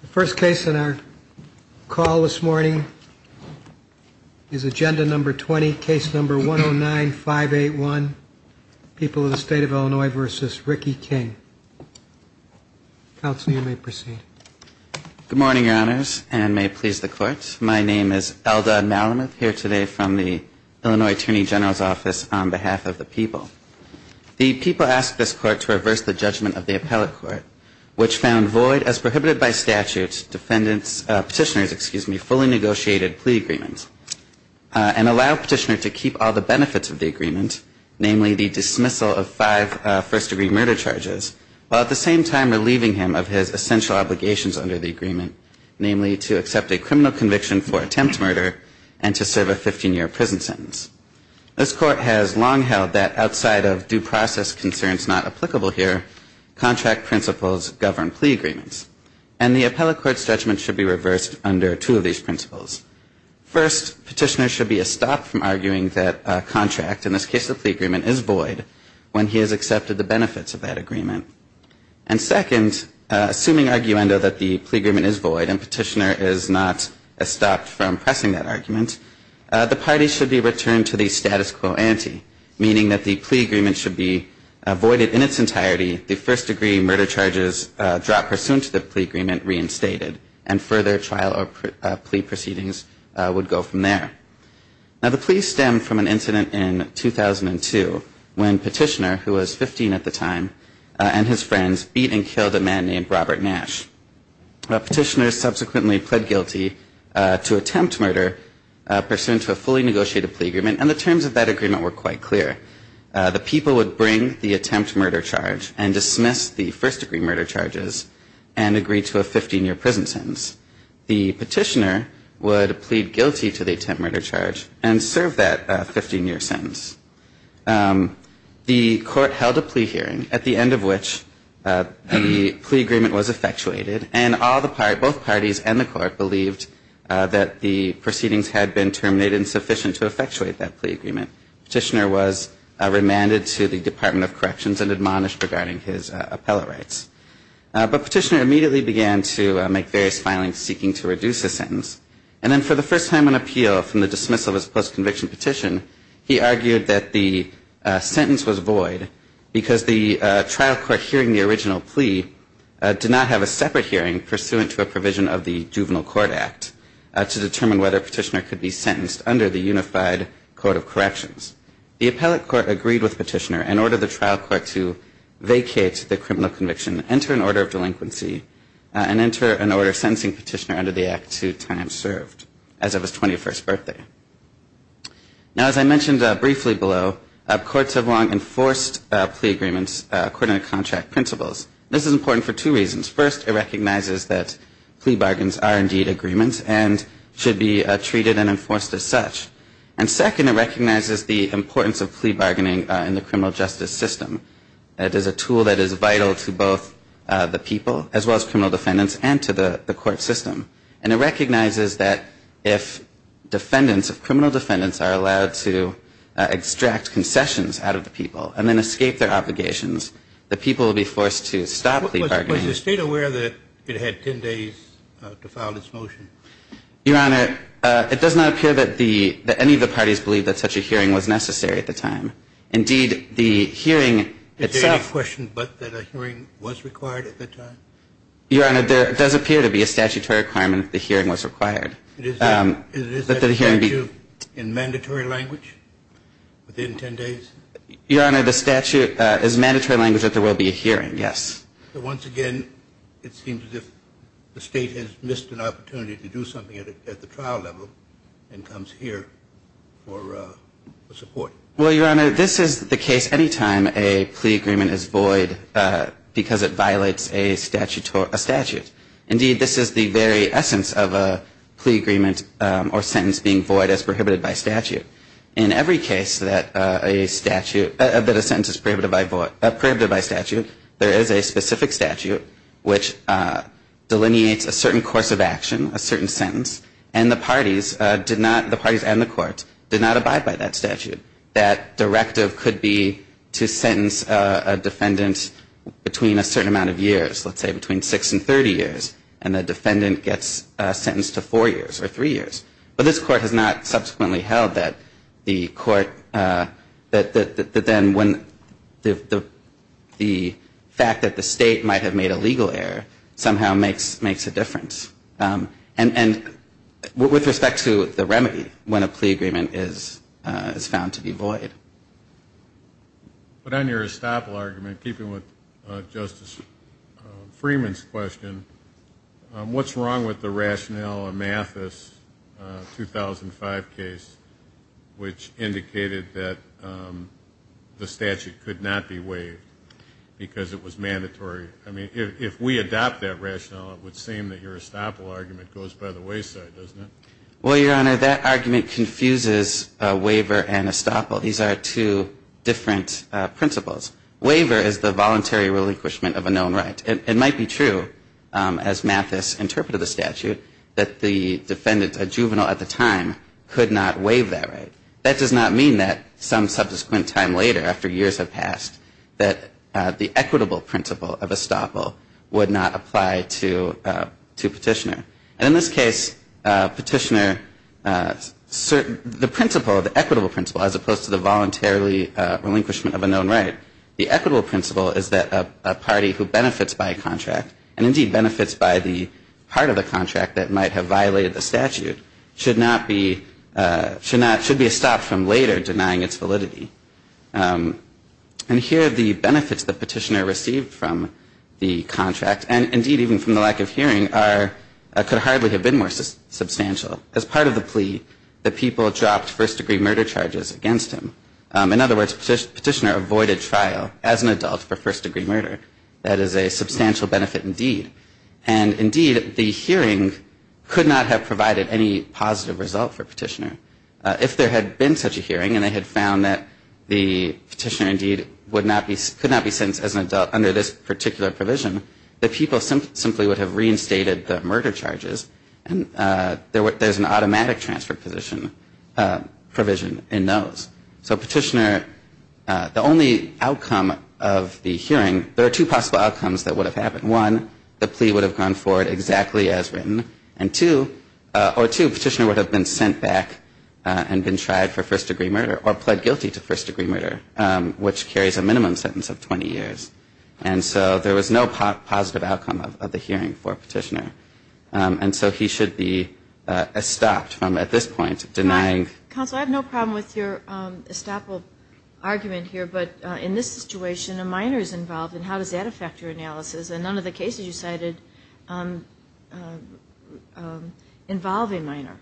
The first case in our call this morning is Agenda No. 20, Case No. 109581, People of the State of Illinois v. Ricky King. Counsel, you may proceed. Good morning, Your Honors, and may it please the Court. My name is Eldad Malamuth, here today from the Illinois Attorney General's Office on behalf of the people. The people asked this Court to reverse the judgment of the appellate court, which found void, as prohibited by statute, petitioners' fully negotiated plea agreement, and allow petitioner to keep all the benefits of the agreement, namely the dismissal of five first-degree murder charges, while at the same time relieving him of his essential obligations under the agreement, namely to accept a criminal conviction for attempt murder and to serve a 15-year prison sentence. This Court has long held that outside of due process concerns not applicable here, contract principles govern plea agreements. And the appellate court's judgment should be reversed under two of these principles. First, petitioner should be estopped from arguing that a contract, in this case a plea agreement, is void when he has accepted the benefits of that agreement. And second, assuming arguendo that the plea agreement is void and petitioner is not estopped from pressing that argument, the party should be returned to the status quo ante, meaning that the plea agreement should be voided in its entirety, the first-degree murder charges dropped pursuant to the plea agreement reinstated, and further trial or plea proceedings would go from there. Now, the plea stemmed from an incident in 2002 when petitioner, who was 15 at the time, and his friends beat and killed a man named Robert Nash. Petitioners subsequently pled guilty to attempt murder pursuant to a fully negotiated plea agreement, and the terms of that agreement were quite clear. The people would bring the attempt murder charge and dismiss the first-degree murder charges and agree to a 15-year prison sentence. The petitioner would plead guilty to the attempt murder charge and serve that 15-year sentence. The court held a plea hearing, at the end of which the plea agreement was effectuated, and both parties and the court believed that the proceedings had been terminated and sufficient to effectuate that plea agreement. Petitioner was remanded to the Department of Corrections and admonished regarding his appellate rights. But petitioner immediately began to make various filings seeking to reduce the sentence. And then for the first time on appeal from the dismissal of his post-conviction petition, he argued that the sentence was void because the trial court hearing the original plea did not have a separate hearing pursuant to a provision of the Juvenile Court Act to determine whether petitioner could be sentenced under the Unified Code of Corrections. The appellate court agreed with petitioner and ordered the trial court to vacate the criminal conviction, enter an order of delinquency, and enter an order sentencing petitioner under the Act to time served as of his 21st birthday. Now, as I mentioned briefly below, courts have long enforced plea agreements according to contract principles. This is important for two reasons. First, it recognizes that plea bargains are indeed agreements and should be treated and enforced as such. And second, it recognizes the importance of plea bargaining in the criminal justice system. It is a tool that is vital to both the people as well as criminal defendants and to the court system. And it recognizes that if defendants, if criminal defendants are allowed to extract concessions out of the people and then escape their obligations, the people will be forced to stop plea bargaining. Was the state aware that it had 10 days to file this motion? Your Honor, it does not appear that any of the parties believed that such a hearing was necessary at the time. Indeed, the hearing itself – Is there any question but that a hearing was required at the time? Your Honor, there does appear to be a statutory requirement that the hearing was required. Is that statute in mandatory language, within 10 days? Your Honor, the statute is mandatory language that there will be a hearing, yes. Once again, it seems as if the state has missed an opportunity to do something at the trial level and comes here for support. Well, Your Honor, this is the case any time a plea agreement is void because it violates a statute. Indeed, this is the very essence of a plea agreement or sentence being void as prohibited by statute. In every case that a sentence is prohibited by statute, there is a specific statute which delineates a certain course of action, a certain sentence, and the parties and the court did not abide by that statute. That directive could be to sentence a defendant between a certain amount of years, let's say between 6 and 30 years, and the defendant gets sentenced to 4 years or 3 years. But this court has not subsequently held that the court, that then when the fact that the state might have made a legal error somehow makes a difference. And with respect to the remedy when a plea agreement is found to be void. But on your estoppel argument, keeping with Justice Freeman's question, what's wrong with the rationale amathus 2005 case which indicated that the statute could not be waived because it was mandatory? I mean, if we adopt that rationale, it would seem that your estoppel argument goes by the wayside, doesn't it? Well, Your Honor, that argument confuses waiver and estoppel. These are two different principles. Waiver is the voluntary relinquishment of a known right. It might be true, as amathus interpreted the statute, that the defendant, a juvenile at the time, could not waive that right. That does not mean that some subsequent time later, after years have passed, that the equitable principle of estoppel would not apply to Petitioner. And in this case, Petitioner, the principle, the equitable principle, as opposed to the voluntarily relinquishment of a known right, the equitable principle is that a party who benefits by a contract, and indeed benefits by the part of the contract that might have violated the statute, should be estopped from later denying its validity. And here the benefits that Petitioner received from the contract, and indeed even from the lack of hearing, could hardly have been more substantial. As part of the plea, the people dropped first-degree murder charges against him. In other words, Petitioner avoided trial as an adult for first-degree murder. That is a substantial benefit indeed. And indeed, the hearing could not have provided any positive result for Petitioner. If there had been such a hearing, and they had found that the Petitioner, indeed, could not be sentenced as an adult under this particular provision, the people simply would have reinstated the murder charges, and there's an automatic transfer provision in those. So Petitioner, the only outcome of the hearing, there are two possible outcomes that would have happened. One, the plea would have gone forward exactly as written. And two, Petitioner would have been sent back and been tried for first-degree murder, or pled guilty to first-degree murder, which carries a minimum sentence of 20 years. And so there was no positive outcome of the hearing for Petitioner. And so he should be estopped from, at this point, denying. Counsel, I have no problem with your estoppel argument here, but in this situation a minor is involved, and how does that affect your analysis? And none of the cases you cited involve a minor.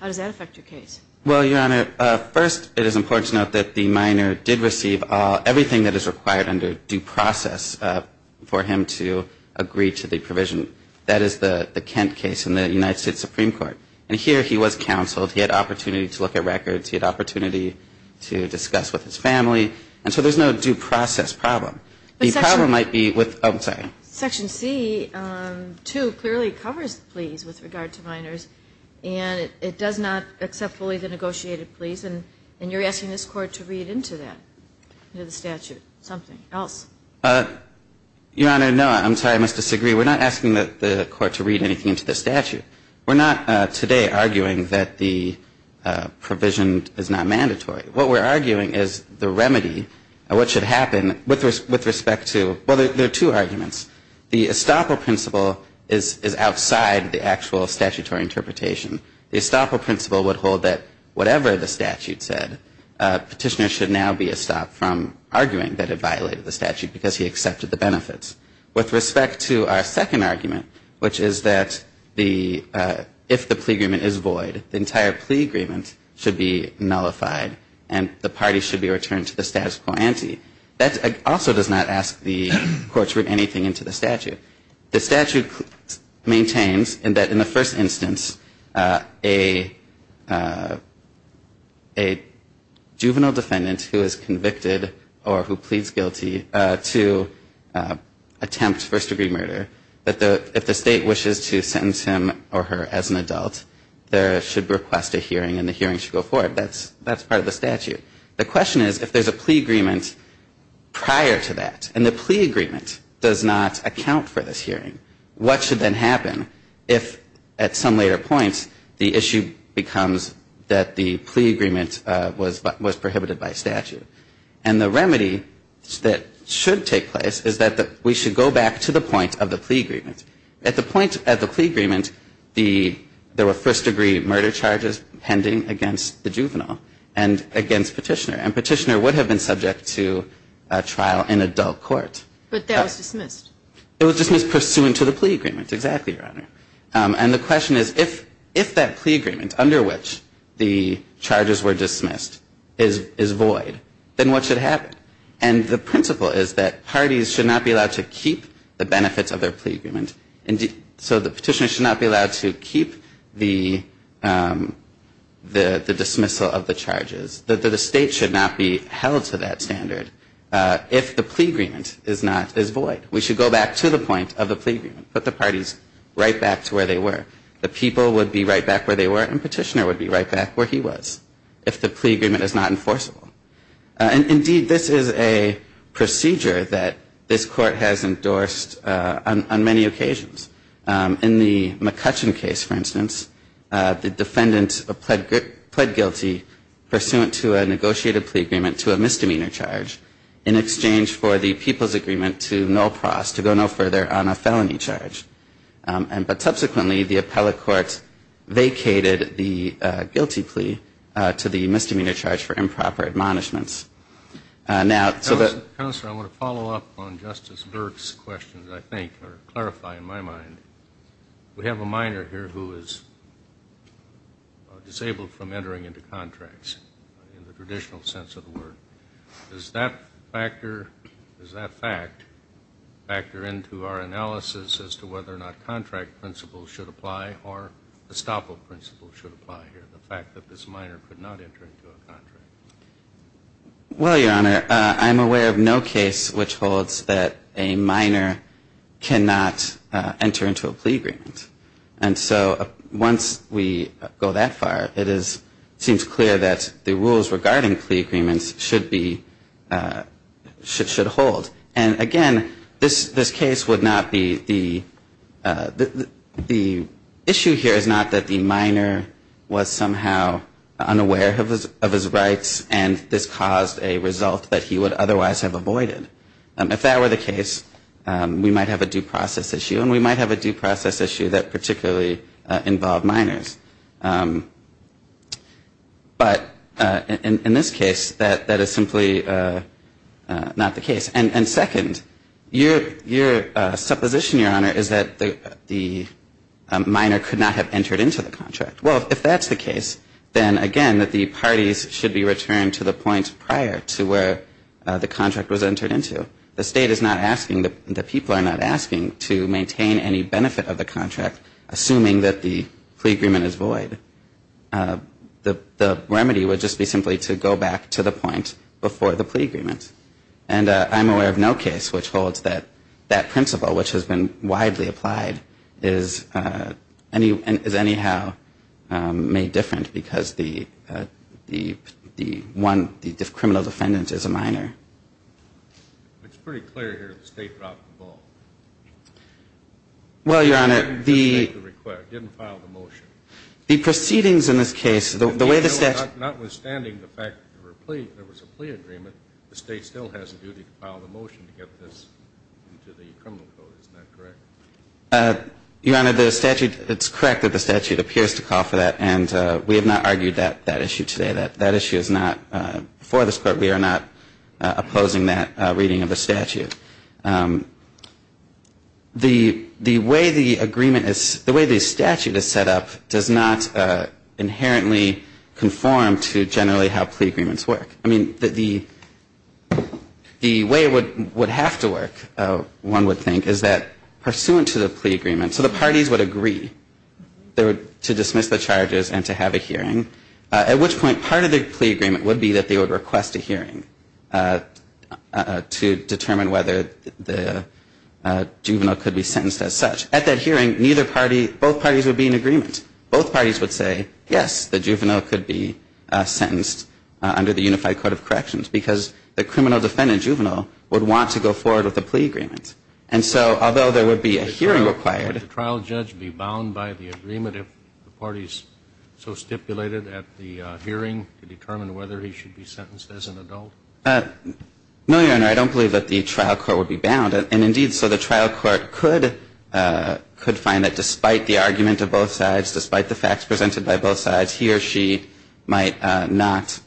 How does that affect your case? Well, Your Honor, first it is important to note that the minor did receive everything that is required under due process for him to agree to the provision. That is the Kent case in the United States Supreme Court. And here he was counseled. He had opportunity to look at records. He had opportunity to discuss with his family. And so there's no due process problem. The problem might be with the, oh, I'm sorry. Section C2 clearly covers the pleas with regard to minors, and it does not accept fully the negotiated pleas. And you're asking this Court to read into that, into the statute, something else. Your Honor, no. I'm sorry. I must disagree. We're not asking the Court to read anything into the statute. We're not today arguing that the provision is not mandatory. What we're arguing is the remedy, what should happen with respect to, well, there are two arguments. The estoppel principle is outside the actual statutory interpretation. The estoppel principle would hold that whatever the statute said, petitioners should now be estopped from arguing that it violated the statute because he accepted the benefits. With respect to our second argument, which is that if the plea agreement is void, the entire plea agreement should be nullified and the party should be returned to the status quo ante. That also does not ask the Court to read anything into the statute. The statute maintains that in the first instance, a juvenile defendant who is convicted or who pleads guilty to attempt first-degree murder, that if the State wishes to sentence him or her as an adult, they should request a hearing and the hearing should go forward. That's part of the statute. The question is if there's a plea agreement prior to that and the plea agreement does not account for this hearing, what should then happen if at some later point the issue becomes that the plea agreement was prohibited by statute? And the remedy that should take place is that we should go back to the point of the plea agreement. At the point of the plea agreement, there were first-degree murder charges pending against the juvenile and against Petitioner. And Petitioner would have been subject to trial in adult court. But that was dismissed. It was dismissed pursuant to the plea agreement. Exactly, Your Honor. And the question is if that plea agreement under which the charges were dismissed is void, then what should happen? And the principle is that parties should not be allowed to keep the benefits of their plea agreement. So the Petitioner should not be allowed to keep the dismissal of the charges. The State should not be held to that standard if the plea agreement is void. We should go back to the point of the plea agreement, put the parties right back to where they were. The people would be right back where they were and Petitioner would be right back where he was if the plea agreement is not enforceable. Indeed, this is a procedure that this Court has endorsed on many occasions. In the McCutcheon case, for instance, the defendant pled guilty pursuant to a negotiated plea agreement to a misdemeanor charge in exchange for the people's agreement to no pros, to go no further on a felony charge. But subsequently, the appellate court vacated the guilty plea to the misdemeanor charge for improper admonishments. Counselor, I want to follow up on Justice Burke's question, I think, or clarify in my mind. We have a minor here who is disabled from entering into contracts in the traditional sense of the word. Does that factor into our analysis as to whether or not contract principles should apply or estoppel principles should apply here, the fact that this minor could not enter into a contract? Well, Your Honor, I'm aware of no case which holds that a minor cannot enter into a plea agreement. And so once we go that far, it seems clear that the rules regarding plea agreements should be, should hold. And again, this case would not be, the issue here is not that the minor was somehow unaware of his rights and this caused a result that he would otherwise have avoided. If that were the case, we might have a due process issue, and we might have a due process issue that particularly involved minors. But in this case, that is simply not the case. And second, your supposition, Your Honor, is that the minor could not have entered into the contract. Well, if that's the case, then, again, that the parties should be returned to the point prior to where the contract was entered into. The state is not asking, the people are not asking to maintain any benefit of the contract, assuming that the plea agreement is void. The remedy would just be simply to go back to the point before the plea agreement. And I'm aware of no case which holds that that principle, which has been widely applied, is anyhow made different because the one, the criminal defendant is a minor. It's pretty clear here that the state dropped the ball. Well, Your Honor, the proceedings in this case, the way the state. Notwithstanding the fact that there was a plea agreement, the state still has a duty to get this into the criminal code, is that correct? Your Honor, the statute, it's correct that the statute appears to call for that. And we have not argued that issue today. That issue is not before this Court. We are not opposing that reading of the statute. The way the agreement is, the way the statute is set up does not inherently conform to generally how plea agreements work. I mean, the way it would have to work, one would think, is that pursuant to the plea agreement, so the parties would agree to dismiss the charges and to have a hearing, at which point part of the plea agreement would be that they would request a hearing to determine whether the juvenile could be sentenced as such. At that hearing, neither party, both parties would be in agreement. Both parties would say, yes, the juvenile could be sentenced under the Unified Code of Corrections because the criminal defendant, juvenile, would want to go forward with the plea agreement. And so, although there would be a hearing required. Would the trial judge be bound by the agreement if the parties so stipulated at the hearing to determine whether he should be sentenced as an adult? No, Your Honor, I don't believe that the trial court would be bound. And indeed, so the trial court could find that despite the argument of both sides despite the facts presented by both sides, he or she might not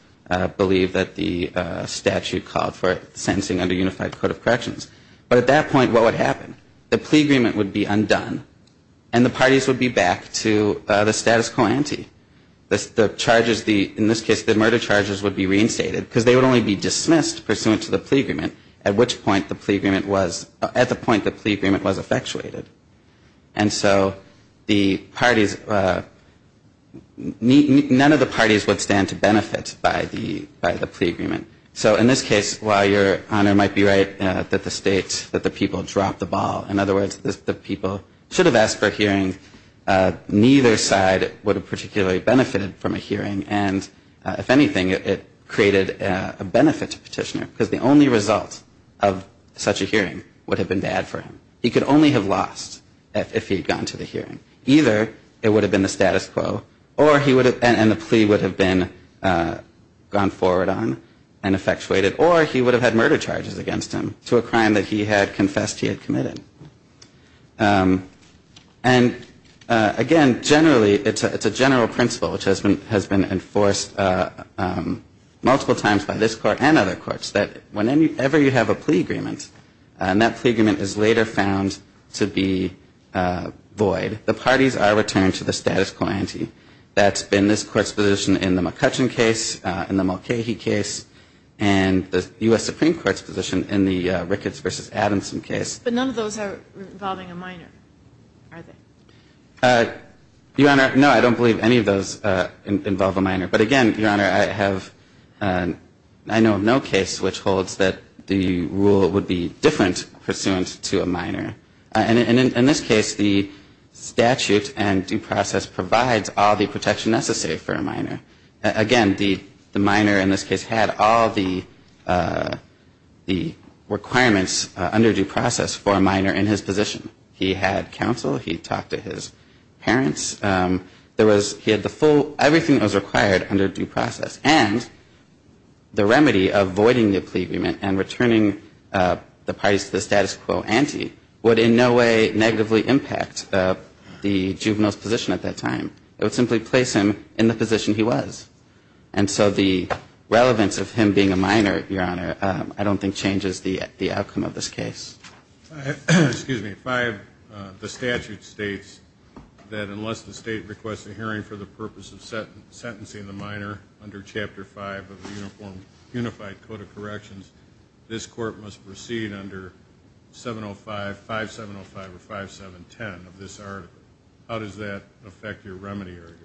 believe that the statute called for sentencing under Unified Code of Corrections. But at that point, what would happen? The plea agreement would be undone. And the parties would be back to the status quo ante. The charges, in this case, the murder charges would be reinstated because they would only be dismissed pursuant to the plea agreement, at which point the plea agreement was, at the point the plea agreement was effectuated. And so the parties, none of the parties would stand to benefit by the plea agreement. So in this case, while Your Honor might be right that the state, that the people dropped the ball. In other words, the people should have asked for a hearing. Neither side would have particularly benefited from a hearing. And if anything, it created a benefit to Petitioner because the only result of such a hearing would have been bad for him. He could only have lost if he had gone to the hearing. Either it would have been the status quo, or he would have, and the plea would have been gone forward on and effectuated. Or he would have had murder charges against him to a crime that he had confessed he had committed. And again, generally, it's a general principle, which has been enforced multiple times by this Court and other courts, that whenever you have a plea agreement, and that plea agreement is later found to be void, the parties are returned to the status quo ante. That's been this Court's position in the McCutcheon case, in the Mulcahy case, and the U.S. Supreme Court's position in the Ricketts v. Adamson case. But none of those are involving a minor, are they? Your Honor, no, I don't believe any of those involve a minor. But again, Your Honor, I know of no case which holds that the rule would be different pursuant to a minor. And in this case, the statute and due process provides all the protection necessary for a minor. Again, the minor in this case had all the requirements under due process for a minor in his position. He had counsel. He talked to his parents. He had everything that was required under due process. And the remedy of voiding the plea agreement and returning the parties to the status quo ante would in no way negatively impact the juvenile's position at that time. It would simply place him in the position he was. And so the relevance of him being a minor, Your Honor, I don't think changes the outcome of this case. Excuse me. The statute states that unless the state requests a hearing for the purpose of sentencing the minor under Chapter 5 of the Unified Code of Corrections, this court must proceed under 705, 5705, or 5710 of this article. How does that affect your remedy argument?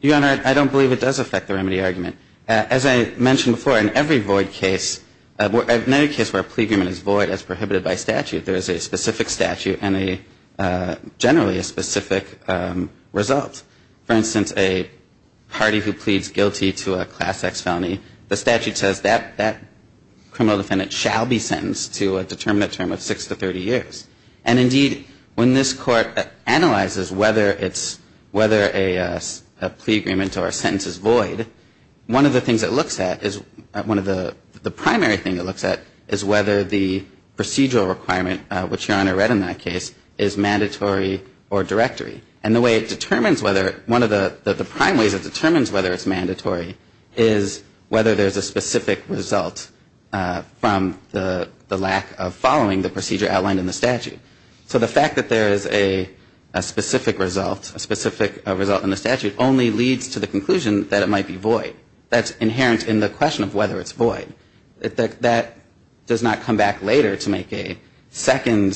Your Honor, I don't believe it does affect the remedy argument. As I mentioned before, in every void case, in any case where a plea agreement is prohibited by statute, there is a specific statute and generally a specific result. For instance, a party who pleads guilty to a Class X felony, the statute says that criminal defendant shall be sentenced to a determinate term of six to 30 years. And indeed, when this court analyzes whether a plea agreement or a sentence is void, one of the things it looks at is one of the primary things it looks at is whether the procedural requirement, which Your Honor read in that case, is mandatory or directory. And the way it determines whether, one of the prime ways it determines whether it's mandatory is whether there's a specific result from the lack of following the procedure outlined in the statute. So the fact that there is a specific result, a specific result in the statute, only leads to the conclusion that it might be void. That's inherent in the question of whether it's void. That does not come back later to make a second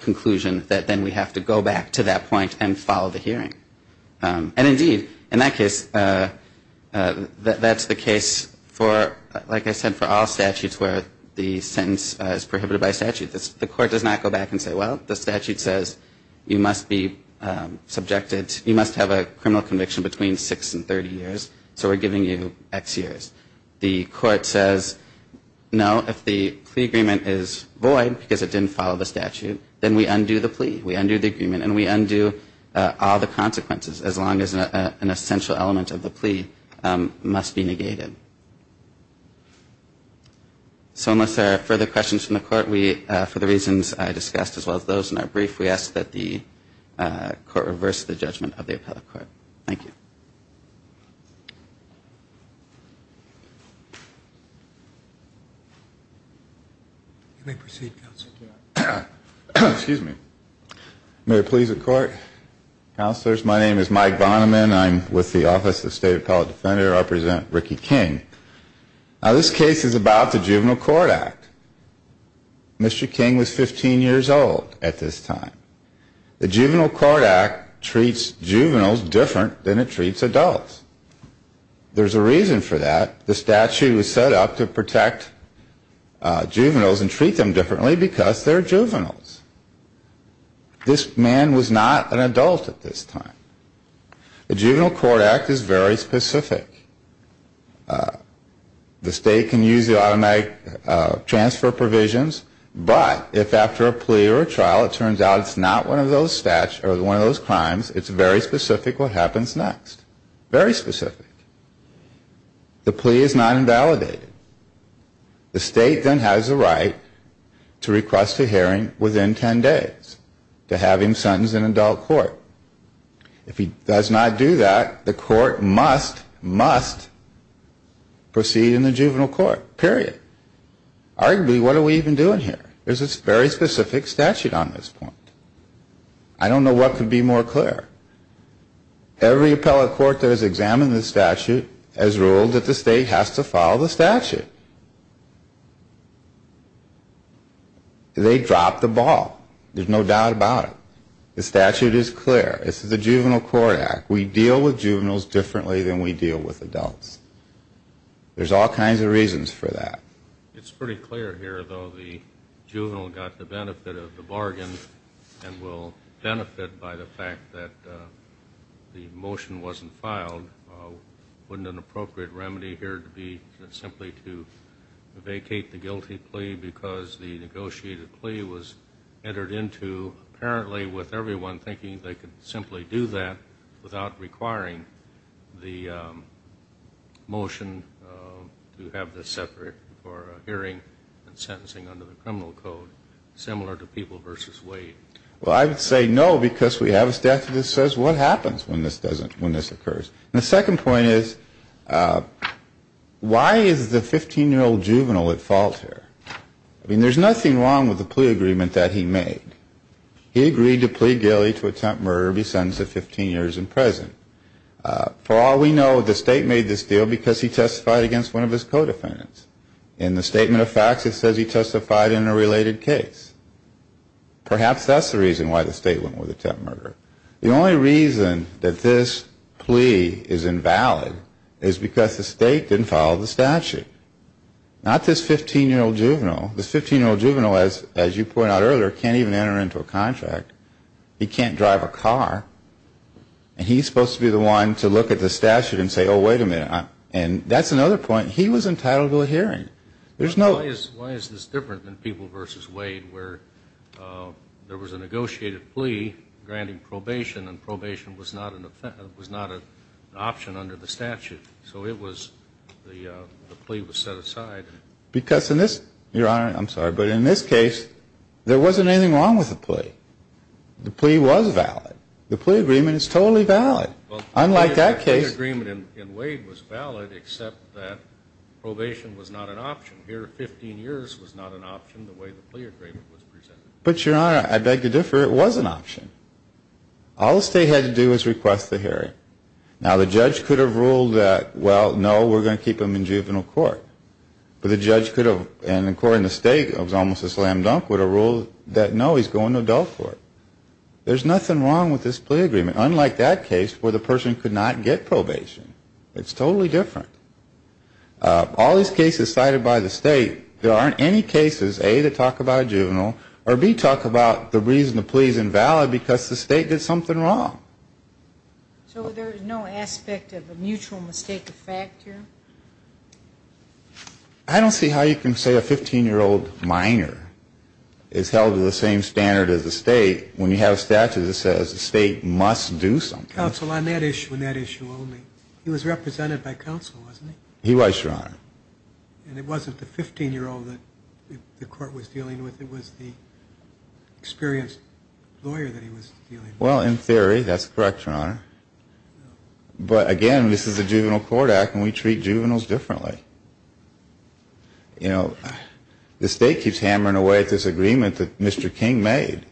conclusion that then we have to go back to that point and follow the hearing. And indeed, in that case, that's the case for, like I said, for all statutes where the sentence is prohibited by statute. The court does not go back and say, well, the statute says you must be subjected to, you must have a criminal conviction between six and 30 years. So we're giving you X years. The court says, no, if the plea agreement is void because it didn't follow the statute, then we undo the plea. We undo the agreement. And we undo all the consequences as long as an essential element of the plea must be negated. So unless there are further questions from the court, we, for the reasons I discussed as well as those in our brief, we ask that the court reverse the judgment of the appellate court. Thank you. You may proceed, counsel. Excuse me. May it please the court. Counselors, my name is Mike Bonneman. I'm with the Office of State Appellate Defender. I represent Ricky King. Now, this case is about the Juvenile Court Act. Mr. King was 15 years old at this time. The Juvenile Court Act treats juveniles different than it treats adults. There's a reason for that. The statute was set up to protect juveniles and treat them differently because they're juveniles. This man was not an adult at this time. The Juvenile Court Act is very specific. The state can use the automatic transfer provisions, but if after a plea or a sentence, it's not one of those crimes, it's very specific what happens next. Very specific. The plea is not invalidated. The state then has the right to request a hearing within 10 days to have him sentenced in adult court. If he does not do that, the court must, must proceed in the juvenile court. Period. Arguably, what are we even doing here? There's a very specific statute on this point. I don't know what could be more clear. Every appellate court that has examined this statute has ruled that the state has to follow the statute. They dropped the ball. There's no doubt about it. The statute is clear. This is the Juvenile Court Act. We deal with juveniles differently than we deal with adults. There's all kinds of reasons for that. It's pretty clear here, though, the juvenile got the benefit of the bargain and will benefit by the fact that the motion wasn't filed. Wouldn't an appropriate remedy here be simply to vacate the guilty plea because the negotiated plea was entered into apparently with everyone thinking they could simply do that without requiring the motion to have this separate for hearing and sentencing under the criminal code, similar to People v. Wade? Well, I would say no because we have a statute that says what happens when this doesn't, when this occurs. And the second point is why is the 15-year-old juvenile at fault here? I mean, there's nothing wrong with the plea agreement that he made. He agreed to plead guilty to attempt murder, be sentenced to 15 years in prison. For all we know, the state made this deal because he testified against one of his co-defendants. In the statement of facts, it says he testified in a related case. Perhaps that's the reason why the state went with attempt murder. The only reason that this plea is invalid is because the state didn't follow the statute. Not this 15-year-old juvenile. This 15-year-old juvenile, as you pointed out earlier, can't even enter into a contract. He can't drive a car. And he's supposed to be the one to look at the statute and say, oh, wait a minute. And that's another point. He was entitled to a hearing. Why is this different than People v. Wade where there was a negotiated plea granting probation and probation was not an option under the statute? So it was, the plea was set aside. Because in this, Your Honor, I'm sorry, but in this case, there wasn't anything wrong with the plea. The plea was valid. The plea agreement is totally valid. Unlike that case. The plea agreement in Wade was valid except that probation was not an option. Here, 15 years was not an option the way the plea agreement was presented. But, Your Honor, I beg to differ. It was an option. All the state had to do was request the hearing. Now, the judge could have ruled that, well, no, we're going to keep him in juvenile court. But the judge could have, and according to the state, it was almost a slam dunk with a rule that, no, he's going to adult court. There's nothing wrong with this plea agreement. Unlike that case where the person could not get probation. It's totally different. All these cases cited by the state, there aren't any cases, A, that talk about juvenile or, B, talk about the reason the plea is invalid because the state did something wrong. So there is no aspect of a mutual mistake of fact here? I don't see how you can say a 15-year-old minor is held to the same standard as the state when you have a statute that says the state must do something. Counsel, on that issue, on that issue only, he was represented by counsel, wasn't he? He was, Your Honor. And it wasn't the 15-year-old that the court was dealing with. It was the experienced lawyer that he was dealing with. Well, in theory, that's correct, Your Honor. But, again, this is a juvenile court act and we treat juveniles differently. You know, the state keeps hammering away at this agreement that Mr. King made.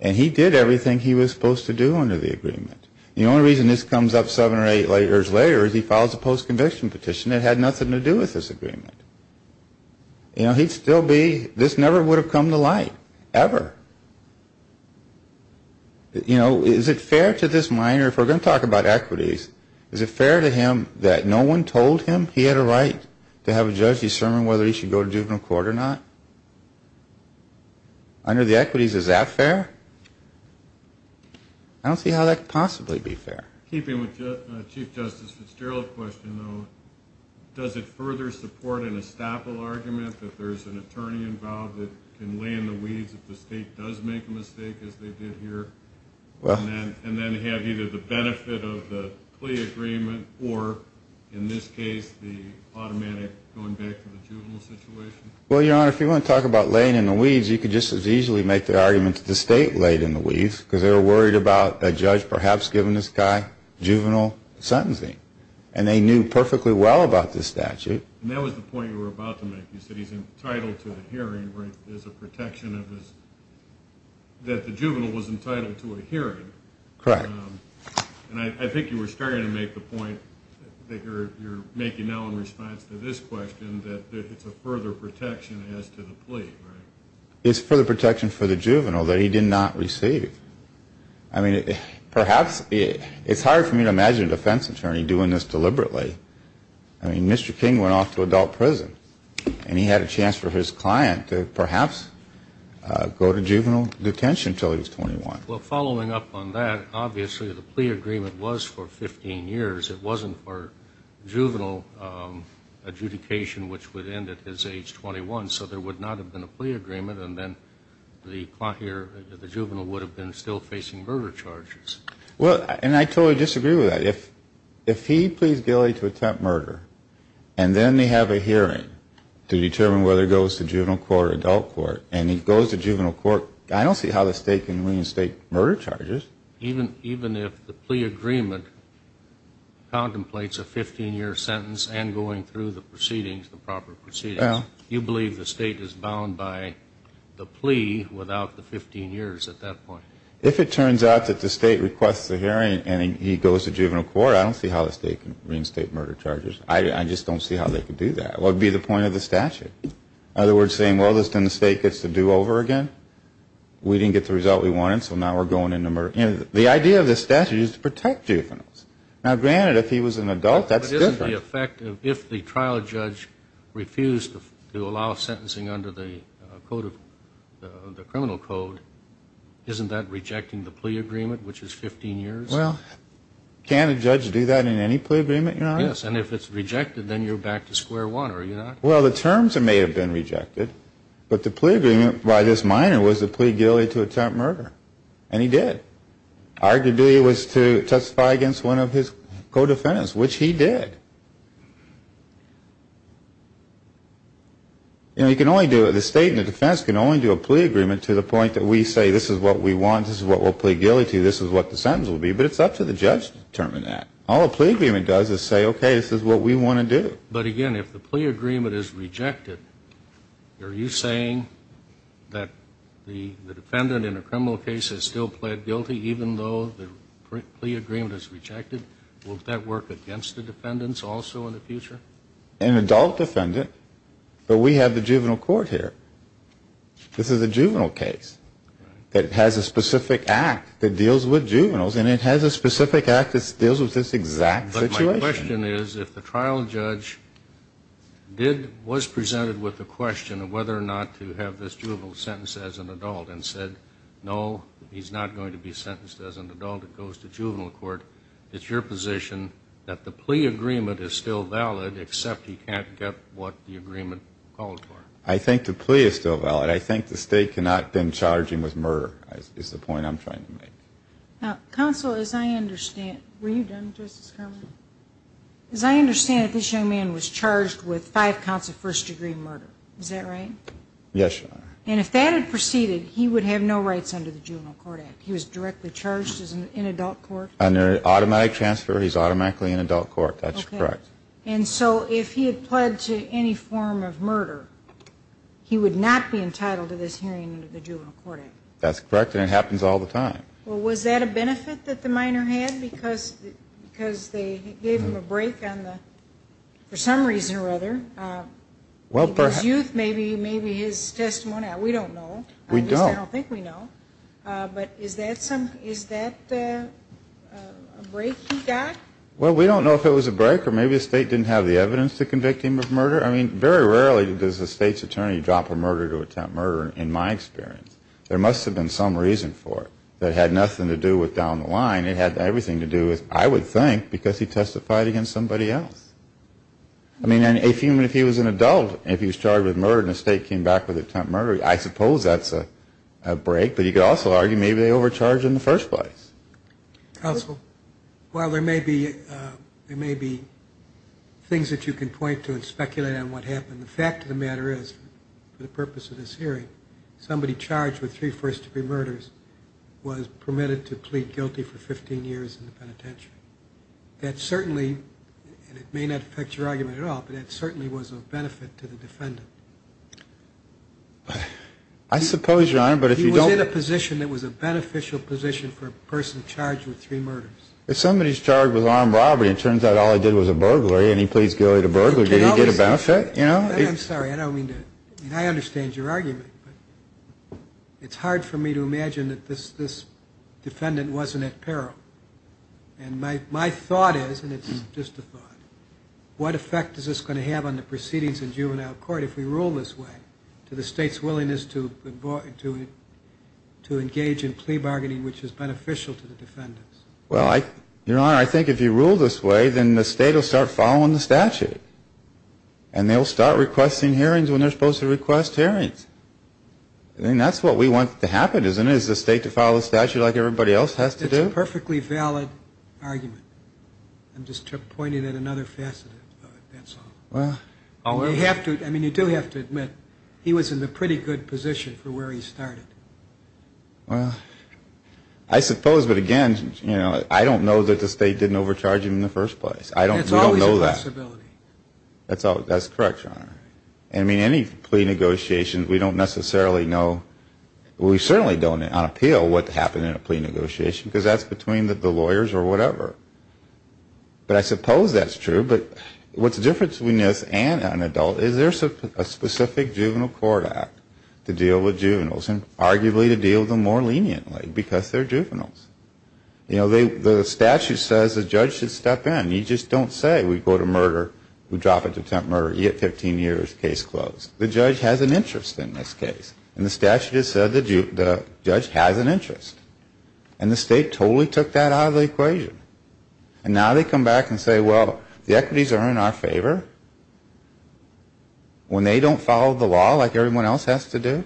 And he did everything he was supposed to do under the agreement. The only reason this comes up seven or eight years later is he files a post-conviction petition that had nothing to do with this agreement. You know, he'd still be, this never would have come to light, ever. You know, is it fair to this minor, if we're going to talk about equities, is it fair to him that no one told him he had a right to have a judge determine whether he should go to juvenile court or not? Under the equities, is that fair? I don't see how that could possibly be fair. Keeping with Chief Justice Fitzgerald's question, though, does it further support an estoppel argument that there's an attorney involved that can lay in the weeds if the state does make a mistake, as they did here, and then have either the benefit of the plea agreement or, in this case, the automatic going back to the juvenile situation? Well, Your Honor, if you want to talk about laying in the weeds, you could just as easily make the argument that the state laid in the weeds because they were worried about a judge perhaps giving this guy juvenile sentencing, and they knew perfectly well about this statute. And that was the point you were about to make. You said he's entitled to a hearing where there's a protection of his, that the juvenile was entitled to a hearing. Correct. And I think you were starting to make the point that you're making now in response to this question, that it's a further protection as to the plea, right? It's further protection for the juvenile that he did not receive. I mean, perhaps it's hard for me to imagine a defense attorney doing this deliberately. I mean, Mr. King went off to adult prison, and he had a chance for his client to perhaps go to juvenile detention until he was 21. Well, following up on that, obviously the plea agreement was for 15 years. It wasn't for juvenile adjudication, which would end at his age 21. So there would not have been a plea agreement, and then the client here, the juvenile, would have been still facing murder charges. Well, and I totally disagree with that. If he pleads guilty to attempt murder, and then they have a hearing to determine whether he goes to juvenile court or adult court, and he goes to juvenile court, I don't see how the state can reinstate murder charges. Even if the plea agreement contemplates a 15-year sentence and going through the proceedings, the proper proceedings, you believe the state is bound by the plea without the 15 years at that point. If it turns out that the state requests a hearing and he goes to juvenile court, I don't see how the state can reinstate murder charges. I just don't see how they could do that. Well, it would be the point of the statute. In other words, saying, well, then the state gets to do over again. We didn't get the result we wanted, so now we're going into murder. The idea of the statute is to protect juveniles. Now, granted, if he was an adult, that's different. If the trial judge refused to allow sentencing under the criminal code, isn't that rejecting the plea agreement, which is 15 years? Well, can't a judge do that in any plea agreement, Your Honor? Yes, and if it's rejected, then you're back to square one, are you not? Well, the terms may have been rejected, but the plea agreement by this minor was to plead guilty to attempt murder, and he did. Our duty was to testify against one of his co-defendants, which he did. You know, you can only do it, the state and the defense can only do a plea agreement to the point that we say this is what we want, this is what we'll plead guilty to, this is what the sentence will be, but it's up to the judge to determine that. All a plea agreement does is say, okay, this is what we want to do. But, again, if the plea agreement is rejected, are you saying that the defendant in a criminal case has still pled guilty even though the plea agreement is rejected? Will that work against the defendants also in the future? An adult defendant, but we have the juvenile court here. This is a juvenile case that has a specific act that deals with juveniles, and it has a specific act that deals with this exact situation. My question is, if the trial judge did, was presented with the question of whether or not to have this juvenile sentenced as an adult and said, no, he's not going to be sentenced as an adult, it goes to juvenile court, it's your position that the plea agreement is still valid except he can't get what the agreement called for? I think the plea is still valid. I think the state cannot bend charging with murder is the point I'm trying to make. Counsel, as I understand, were you done, Justice Garland? As I understand it, this young man was charged with five counts of first-degree murder. Is that right? Yes, Your Honor. And if that had proceeded, he would have no rights under the Juvenile Court Act? He was directly charged in adult court? Under automatic transfer, he's automatically in adult court. That's correct. And so if he had pled to any form of murder, he would not be entitled to this hearing under the Juvenile Court Act? That's correct, and it happens all the time. Well, was that a benefit that the minor had because they gave him a break on the, for some reason or other, his youth, maybe his testimony? We don't know. We don't. I don't think we know. But is that a break he got? Well, we don't know if it was a break or maybe the state didn't have the evidence to convict him of murder. I mean, very rarely does the state's attorney drop a murder to attempt murder, in my experience. There must have been some reason for it. It had nothing to do with down the line. It had everything to do with, I would think, because he testified against somebody else. I mean, if he was an adult and he was charged with murder and the state came back with an attempt at murder, I suppose that's a break. But you could also argue maybe they overcharged in the first place. Counsel, while there may be things that you can point to and speculate on what happened, and the fact of the matter is, for the purpose of this hearing, somebody charged with three first-degree murders was permitted to plead guilty for 15 years in the penitentiary. That certainly, and it may not affect your argument at all, but that certainly was of benefit to the defendant. I suppose, Your Honor, but if you don't— He was in a position that was a beneficial position for a person charged with three murders. If somebody's charged with armed robbery and it turns out all he did was a burglary and he pleads guilty to burglary, did he get a benefit? I'm sorry, I don't mean to—I mean, I understand your argument, but it's hard for me to imagine that this defendant wasn't at peril. And my thought is, and it's just a thought, what effect is this going to have on the proceedings in juvenile court if we rule this way to the state's willingness to engage in plea bargaining which is beneficial to the defendants? Well, Your Honor, I think if you rule this way, then the state will start following the statute. And they'll start requesting hearings when they're supposed to request hearings. I mean, that's what we want to happen, isn't it? Is the state to follow the statute like everybody else has to do? It's a perfectly valid argument. I'm just pointing at another facet of it, that's all. Well— You have to—I mean, you do have to admit he was in a pretty good position for where he started. Well, I suppose, but again, you know, I don't know that the state didn't overcharge him in the first place. We don't know that. And it's always a possibility. That's correct, Your Honor. I mean, any plea negotiations, we don't necessarily know— we certainly don't on appeal what happened in a plea negotiation because that's between the lawyers or whatever. But I suppose that's true. But what's the difference between this and an adult is there's a specific juvenile court act to deal with juveniles and arguably to deal with them more leniently because they're juveniles. You know, the statute says the judge should step in. You just don't say we go to murder, we drop it to attempt murder. You get 15 years, case closed. The judge has an interest in this case. And the statute has said the judge has an interest. And the state totally took that out of the equation. And now they come back and say, well, the equities are in our favor when they don't follow the law like everyone else has to do.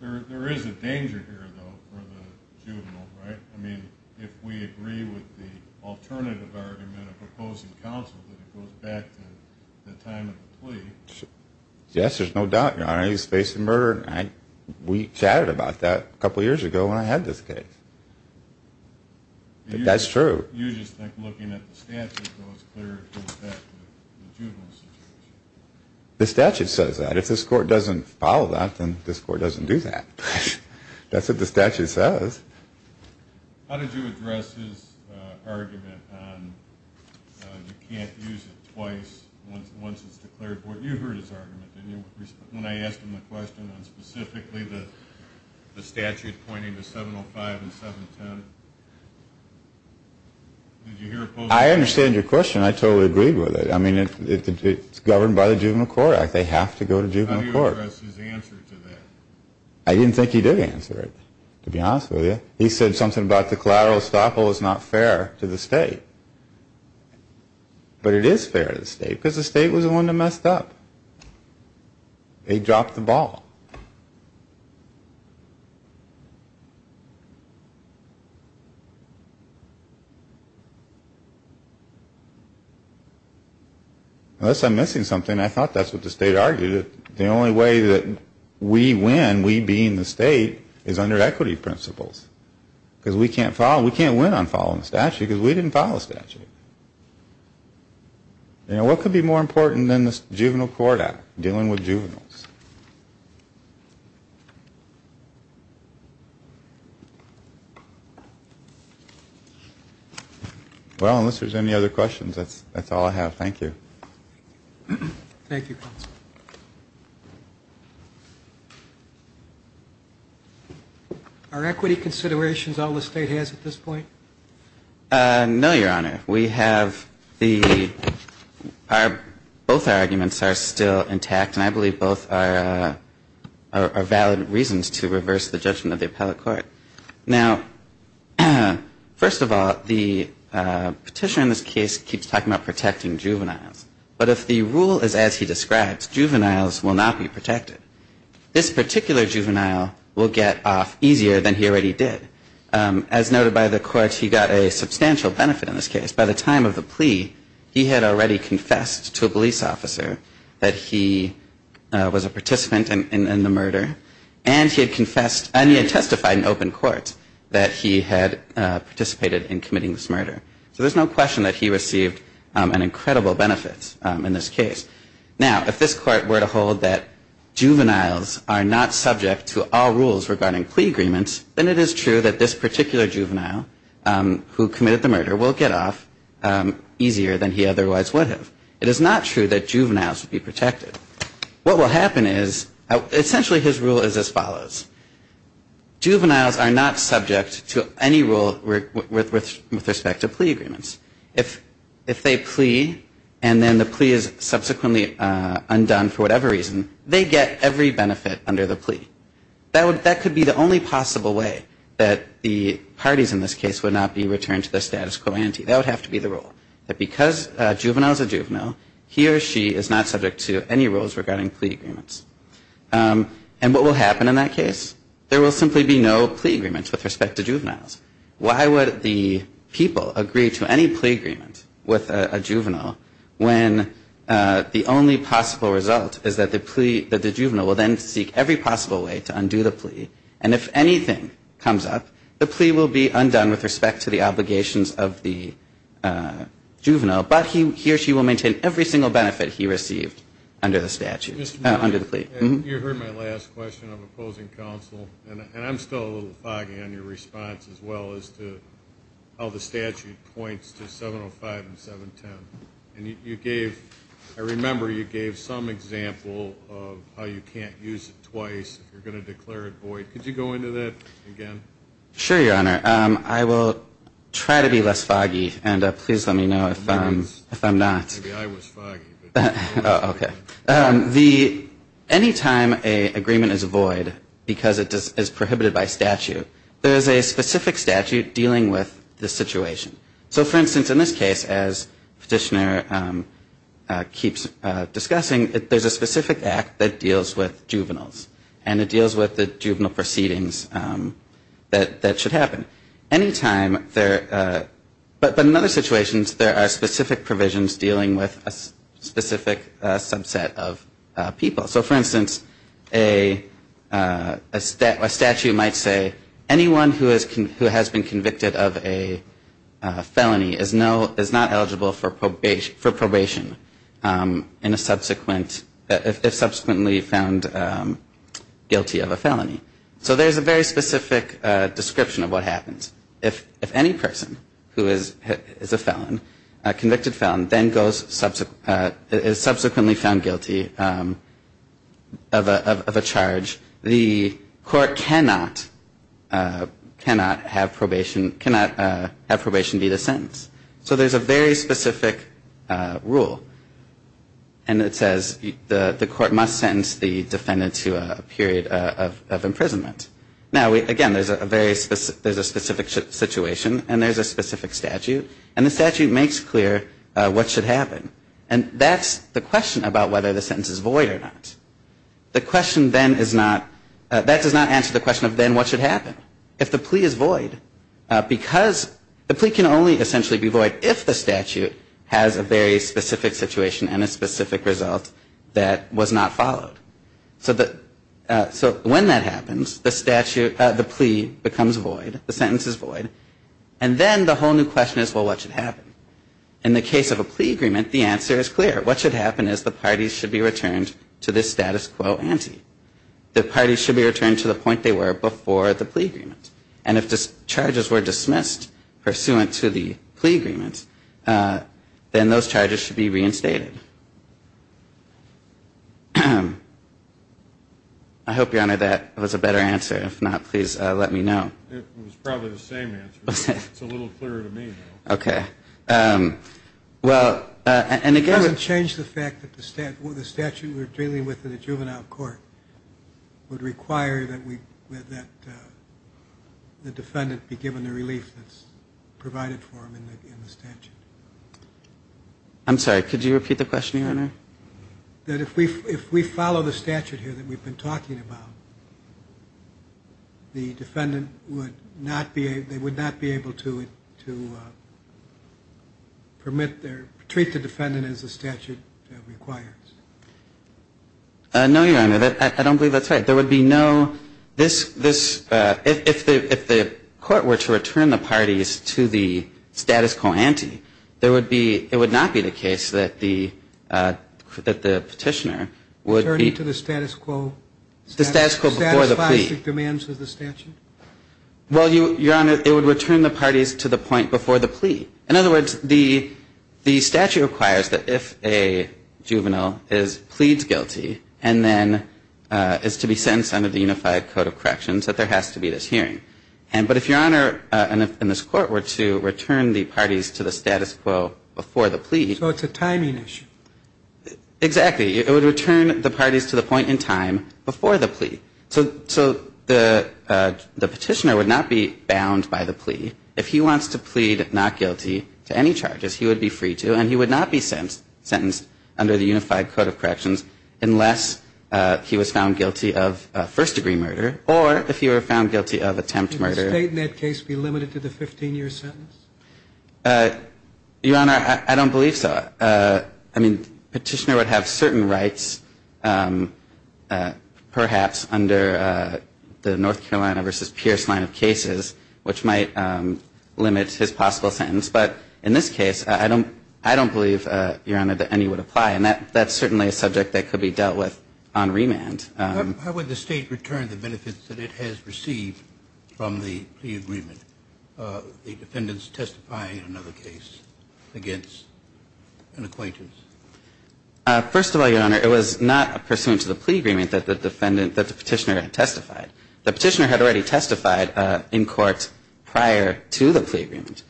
There is a danger here, though, for the juvenile, right? I mean, if we agree with the alternative argument of opposing counsel, that it goes back to the time of the plea. Yes, there's no doubt, Your Honor. He's facing murder. We chatted about that a couple years ago when I had this case. That's true. You just think looking at the statute, though, it's clear it goes back to the juvenile situation. The statute says that. If this court doesn't follow that, then this court doesn't do that. That's what the statute says. How did you address his argument on you can't use it twice once it's declared? You heard his argument. When I asked him the question on specifically the statute pointing to 705 and 710, did you hear opposing counsel? I understand your question. I totally agreed with it. I mean, it's governed by the Juvenile Court Act. They have to go to juvenile court. How do you address his answer to that? I didn't think he did answer it, to be honest with you. He said something about the collateral estoppel is not fair to the state. But it is fair to the state because the state was the one that messed up. They dropped the ball. Unless I'm missing something, I thought that's what the state argued. The only way that we win, we being the state, is under equity principles. Because we can't win on following the statute because we didn't follow the statute. What could be more important than the Juvenile Court Act, dealing with juveniles? Well, unless there's any other questions, that's all I have. Thank you. Thank you, counsel. Are equity considerations all the state has at this point? No, Your Honor. We have the – both our arguments are still intact, and I believe both are valid reasons to reverse the judgment of the appellate court. Now, first of all, the petition in this case keeps talking about protecting juveniles, but if the rule is as he describes, juveniles will not be protected. This particular juvenile will get off easier than he already did. As noted by the court, he got a substantial benefit in this case. By the time of the plea, he had already confessed to a police officer that he was a participant in the murder, and he had testified in open court that he had participated in committing this murder. So there's no question that he received an incredible benefit in this case. Now, if this court were to hold that juveniles are not subject to all rules regarding plea agreements, then it is true that this particular juvenile who committed the murder will get off easier than he otherwise would have. It is not true that juveniles would be protected. Juveniles are not subject to any rule with respect to plea agreements. If they plea and then the plea is subsequently undone for whatever reason, they get every benefit under the plea. That could be the only possible way that the parties in this case would not be returned to their status quo ante. That would have to be the rule, that because a juvenile is a juvenile, he or she is not subject to any rules regarding plea agreements. And what will happen in that case? There will simply be no plea agreements with respect to juveniles. Why would the people agree to any plea agreement with a juvenile when the only possible result is that the juvenile will then seek every possible way to undo the plea, and if anything comes up, the plea will be undone with respect to the obligations of the juvenile, but he or she will maintain every single benefit he received under the statute, under the plea. You heard my last question of opposing counsel, and I'm still a little foggy on your response as well as to how the statute points to 705 and 710. And you gave, I remember you gave some example of how you can't use it twice if you're going to declare it void. Could you go into that again? Sure, Your Honor. I will try to be less foggy, and please let me know if I'm not. Maybe I was foggy. Okay. Any time an agreement is void because it is prohibited by statute, there is a specific statute dealing with the situation. So, for instance, in this case, as Petitioner keeps discussing, there's a specific act that deals with juveniles, and it deals with the juvenile proceedings that should happen. But in other situations, there are specific provisions dealing with a specific subset of people. So, for instance, a statute might say anyone who has been convicted of a felony is not eligible for probation if subsequently found guilty of a felony. So there's a very specific description of what happens. If any person who is a felon, a convicted felon, then is subsequently found guilty of a charge, the court cannot have probation be the sentence. So there's a very specific rule. And it says the court must sentence the defendant to a period of imprisonment. Now, again, there's a very specific situation, and there's a specific statute, and the statute makes clear what should happen. And that's the question about whether the sentence is void or not. The question then is not, that does not answer the question of then what should happen if the plea is void, because the plea can only essentially be void if the statute has a very specific situation and a specific result that was not followed. So when that happens, the plea becomes void, the sentence is void, and then the whole new question is, well, what should happen? In the case of a plea agreement, the answer is clear. What should happen is the parties should be returned to the status quo ante. The parties should be returned to the point they were before the plea agreement. And if charges were dismissed pursuant to the plea agreement, then those charges should be reinstated. I hope, Your Honor, that was a better answer. If not, please let me know. It was probably the same answer. It's a little clearer to me, though. Okay. Well, and again, It doesn't change the fact that the statute we're dealing with in a juvenile court would require that the defendant be given the relief that's provided for him in the statute. I'm sorry. Could you repeat the question, Your Honor? That if we follow the statute here that we've been talking about, the defendant would not be able to treat the defendant as the statute requires. No, Your Honor. I don't believe that's right. There would be no, this, if the court were to return the parties to the status quo ante, there would be, it would not be the case that the petitioner would be Returned to the status quo. The status quo before the plea. Satisfies the demands of the statute. Well, Your Honor, it would return the parties to the point before the plea. In other words, the statute requires that if a juvenile is, pleads guilty, and then is to be sentenced under the Unified Code of Corrections, that there has to be this hearing. But if Your Honor, and if in this court were to return the parties to the status quo before the plea. So it's a timing issue. Exactly. It would return the parties to the point in time before the plea. So the petitioner would not be bound by the plea. If he wants to plead not guilty to any charges, he would be free to, and he would not be sentenced under the Unified Code of Corrections, unless he was found guilty of first-degree murder. Or if he were found guilty of attempt murder. Would the state in that case be limited to the 15-year sentence? Your Honor, I don't believe so. I mean, the petitioner would have certain rights, perhaps, under the North Carolina v. Pierce line of cases, which might limit his possible sentence. But in this case, I don't believe, Your Honor, that any would apply. And that's certainly a subject that could be dealt with on remand. How would the state return the benefits that it has received from the plea agreement, the defendants testifying in another case against an acquaintance? First of all, Your Honor, it was not pursuant to the plea agreement that the petitioner had testified. The petitioner had already testified in court prior to the plea agreement.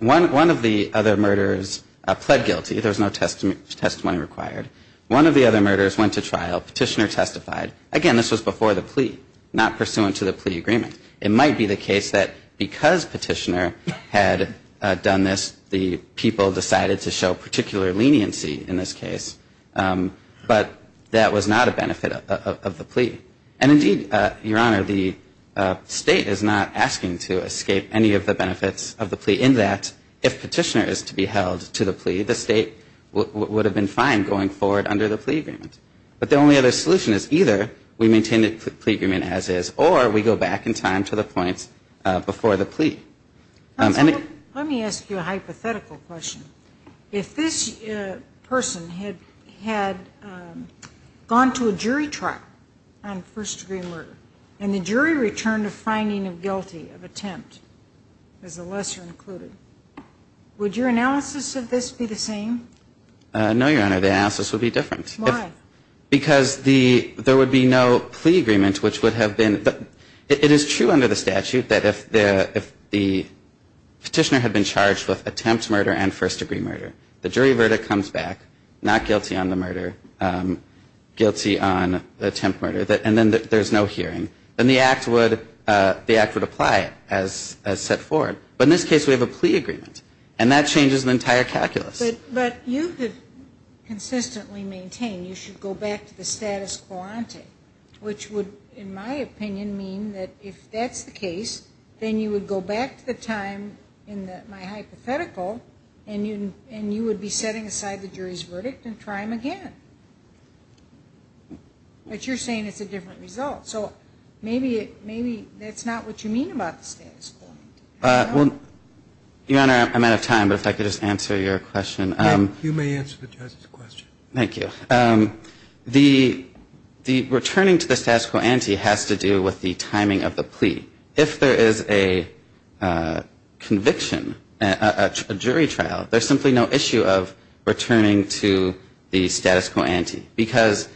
One of the other murderers pled guilty. There was no testimony required. One of the other murderers went to trial. Petitioner testified. Again, this was before the plea, not pursuant to the plea agreement. It might be the case that because petitioner had done this, the people decided to show particular leniency in this case. But that was not a benefit of the plea. And indeed, Your Honor, the state is not asking to escape any of the benefits of the plea, in that if petitioner is to be held to the plea, the state would have been fine going forward under the plea agreement. But the only other solution is either we maintain the plea agreement as is, or we go back in time to the points before the plea. Let me ask you a hypothetical question. If this person had gone to a jury trial on first-degree murder, and the jury returned a finding of guilty of attempt, as the lesser included, would your analysis of this be the same? No, Your Honor. The analysis would be different. Why? Because there would be no plea agreement, which would have been... It is true under the statute that if the petitioner had been charged with attempt murder and first-degree murder, the jury verdict comes back not guilty on the murder, guilty on attempt murder, and then there's no hearing, then the act would apply it as set forward. But in this case, we have a plea agreement, and that changes the entire calculus. But you could consistently maintain you should go back to the status quo ante, which would, in my opinion, mean that if that's the case, then you would go back to the time in my hypothetical, and you would be setting aside the jury's verdict and try them again. But you're saying it's a different result. So maybe that's not what you mean about the status quo ante. Your Honor, I'm out of time, but if I could just answer your question. You may answer the judge's question. Thank you. The returning to the status quo ante has to do with the timing of the plea. If there is a conviction, a jury trial, there's simply no issue of returning to the status quo ante because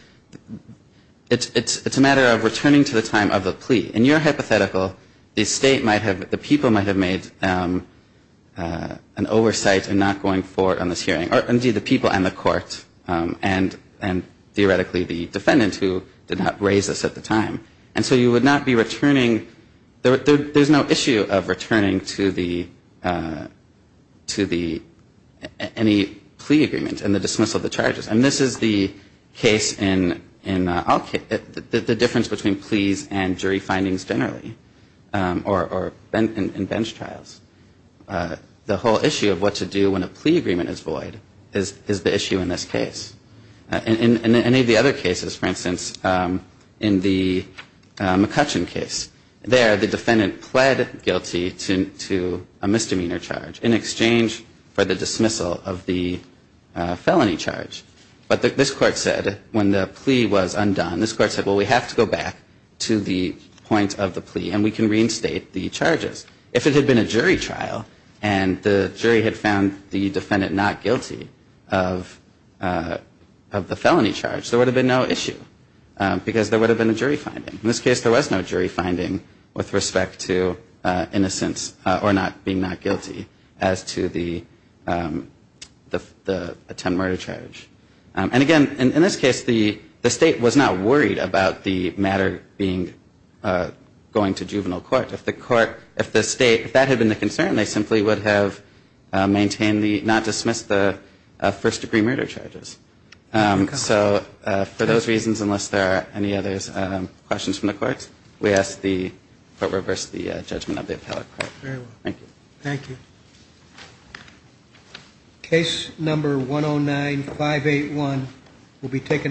it's a matter of returning to the time of the plea. In your hypothetical, the state might have, the people might have made an oversight in not going forward on this hearing, or indeed the people and the court, and theoretically the defendant who did not raise this at the time. And so you would not be returning. There's no issue of returning to any plea agreement and the dismissal of the charges. And this is the case in all cases, the difference between pleas and jury findings generally or in bench trials. The whole issue of what to do when a plea agreement is void is the issue in this case. In any of the other cases, for instance, in the McCutcheon case, there the defendant pled guilty to a misdemeanor charge in exchange for the dismissal of the felony charge. But this court said when the plea was undone, this court said, well, we have to go back to the point of the plea and we can reinstate the charges. If it had been a jury trial and the jury had found the defendant not guilty of the felony charge, there would have been no issue because there would have been a jury finding. In this case, there was no jury finding with respect to innocence or being not guilty as to the attempted murder charge. And again, in this case, the state was not worried about the matter going to juvenile court. If the court, if the state, if that had been the concern, they simply would have maintained the, not dismissed the first degree murder charges. So for those reasons, unless there are any other questions from the courts, we ask the court reverse the judgment of the appellate court. Thank you. Thank you. Case number 109581 will be taken.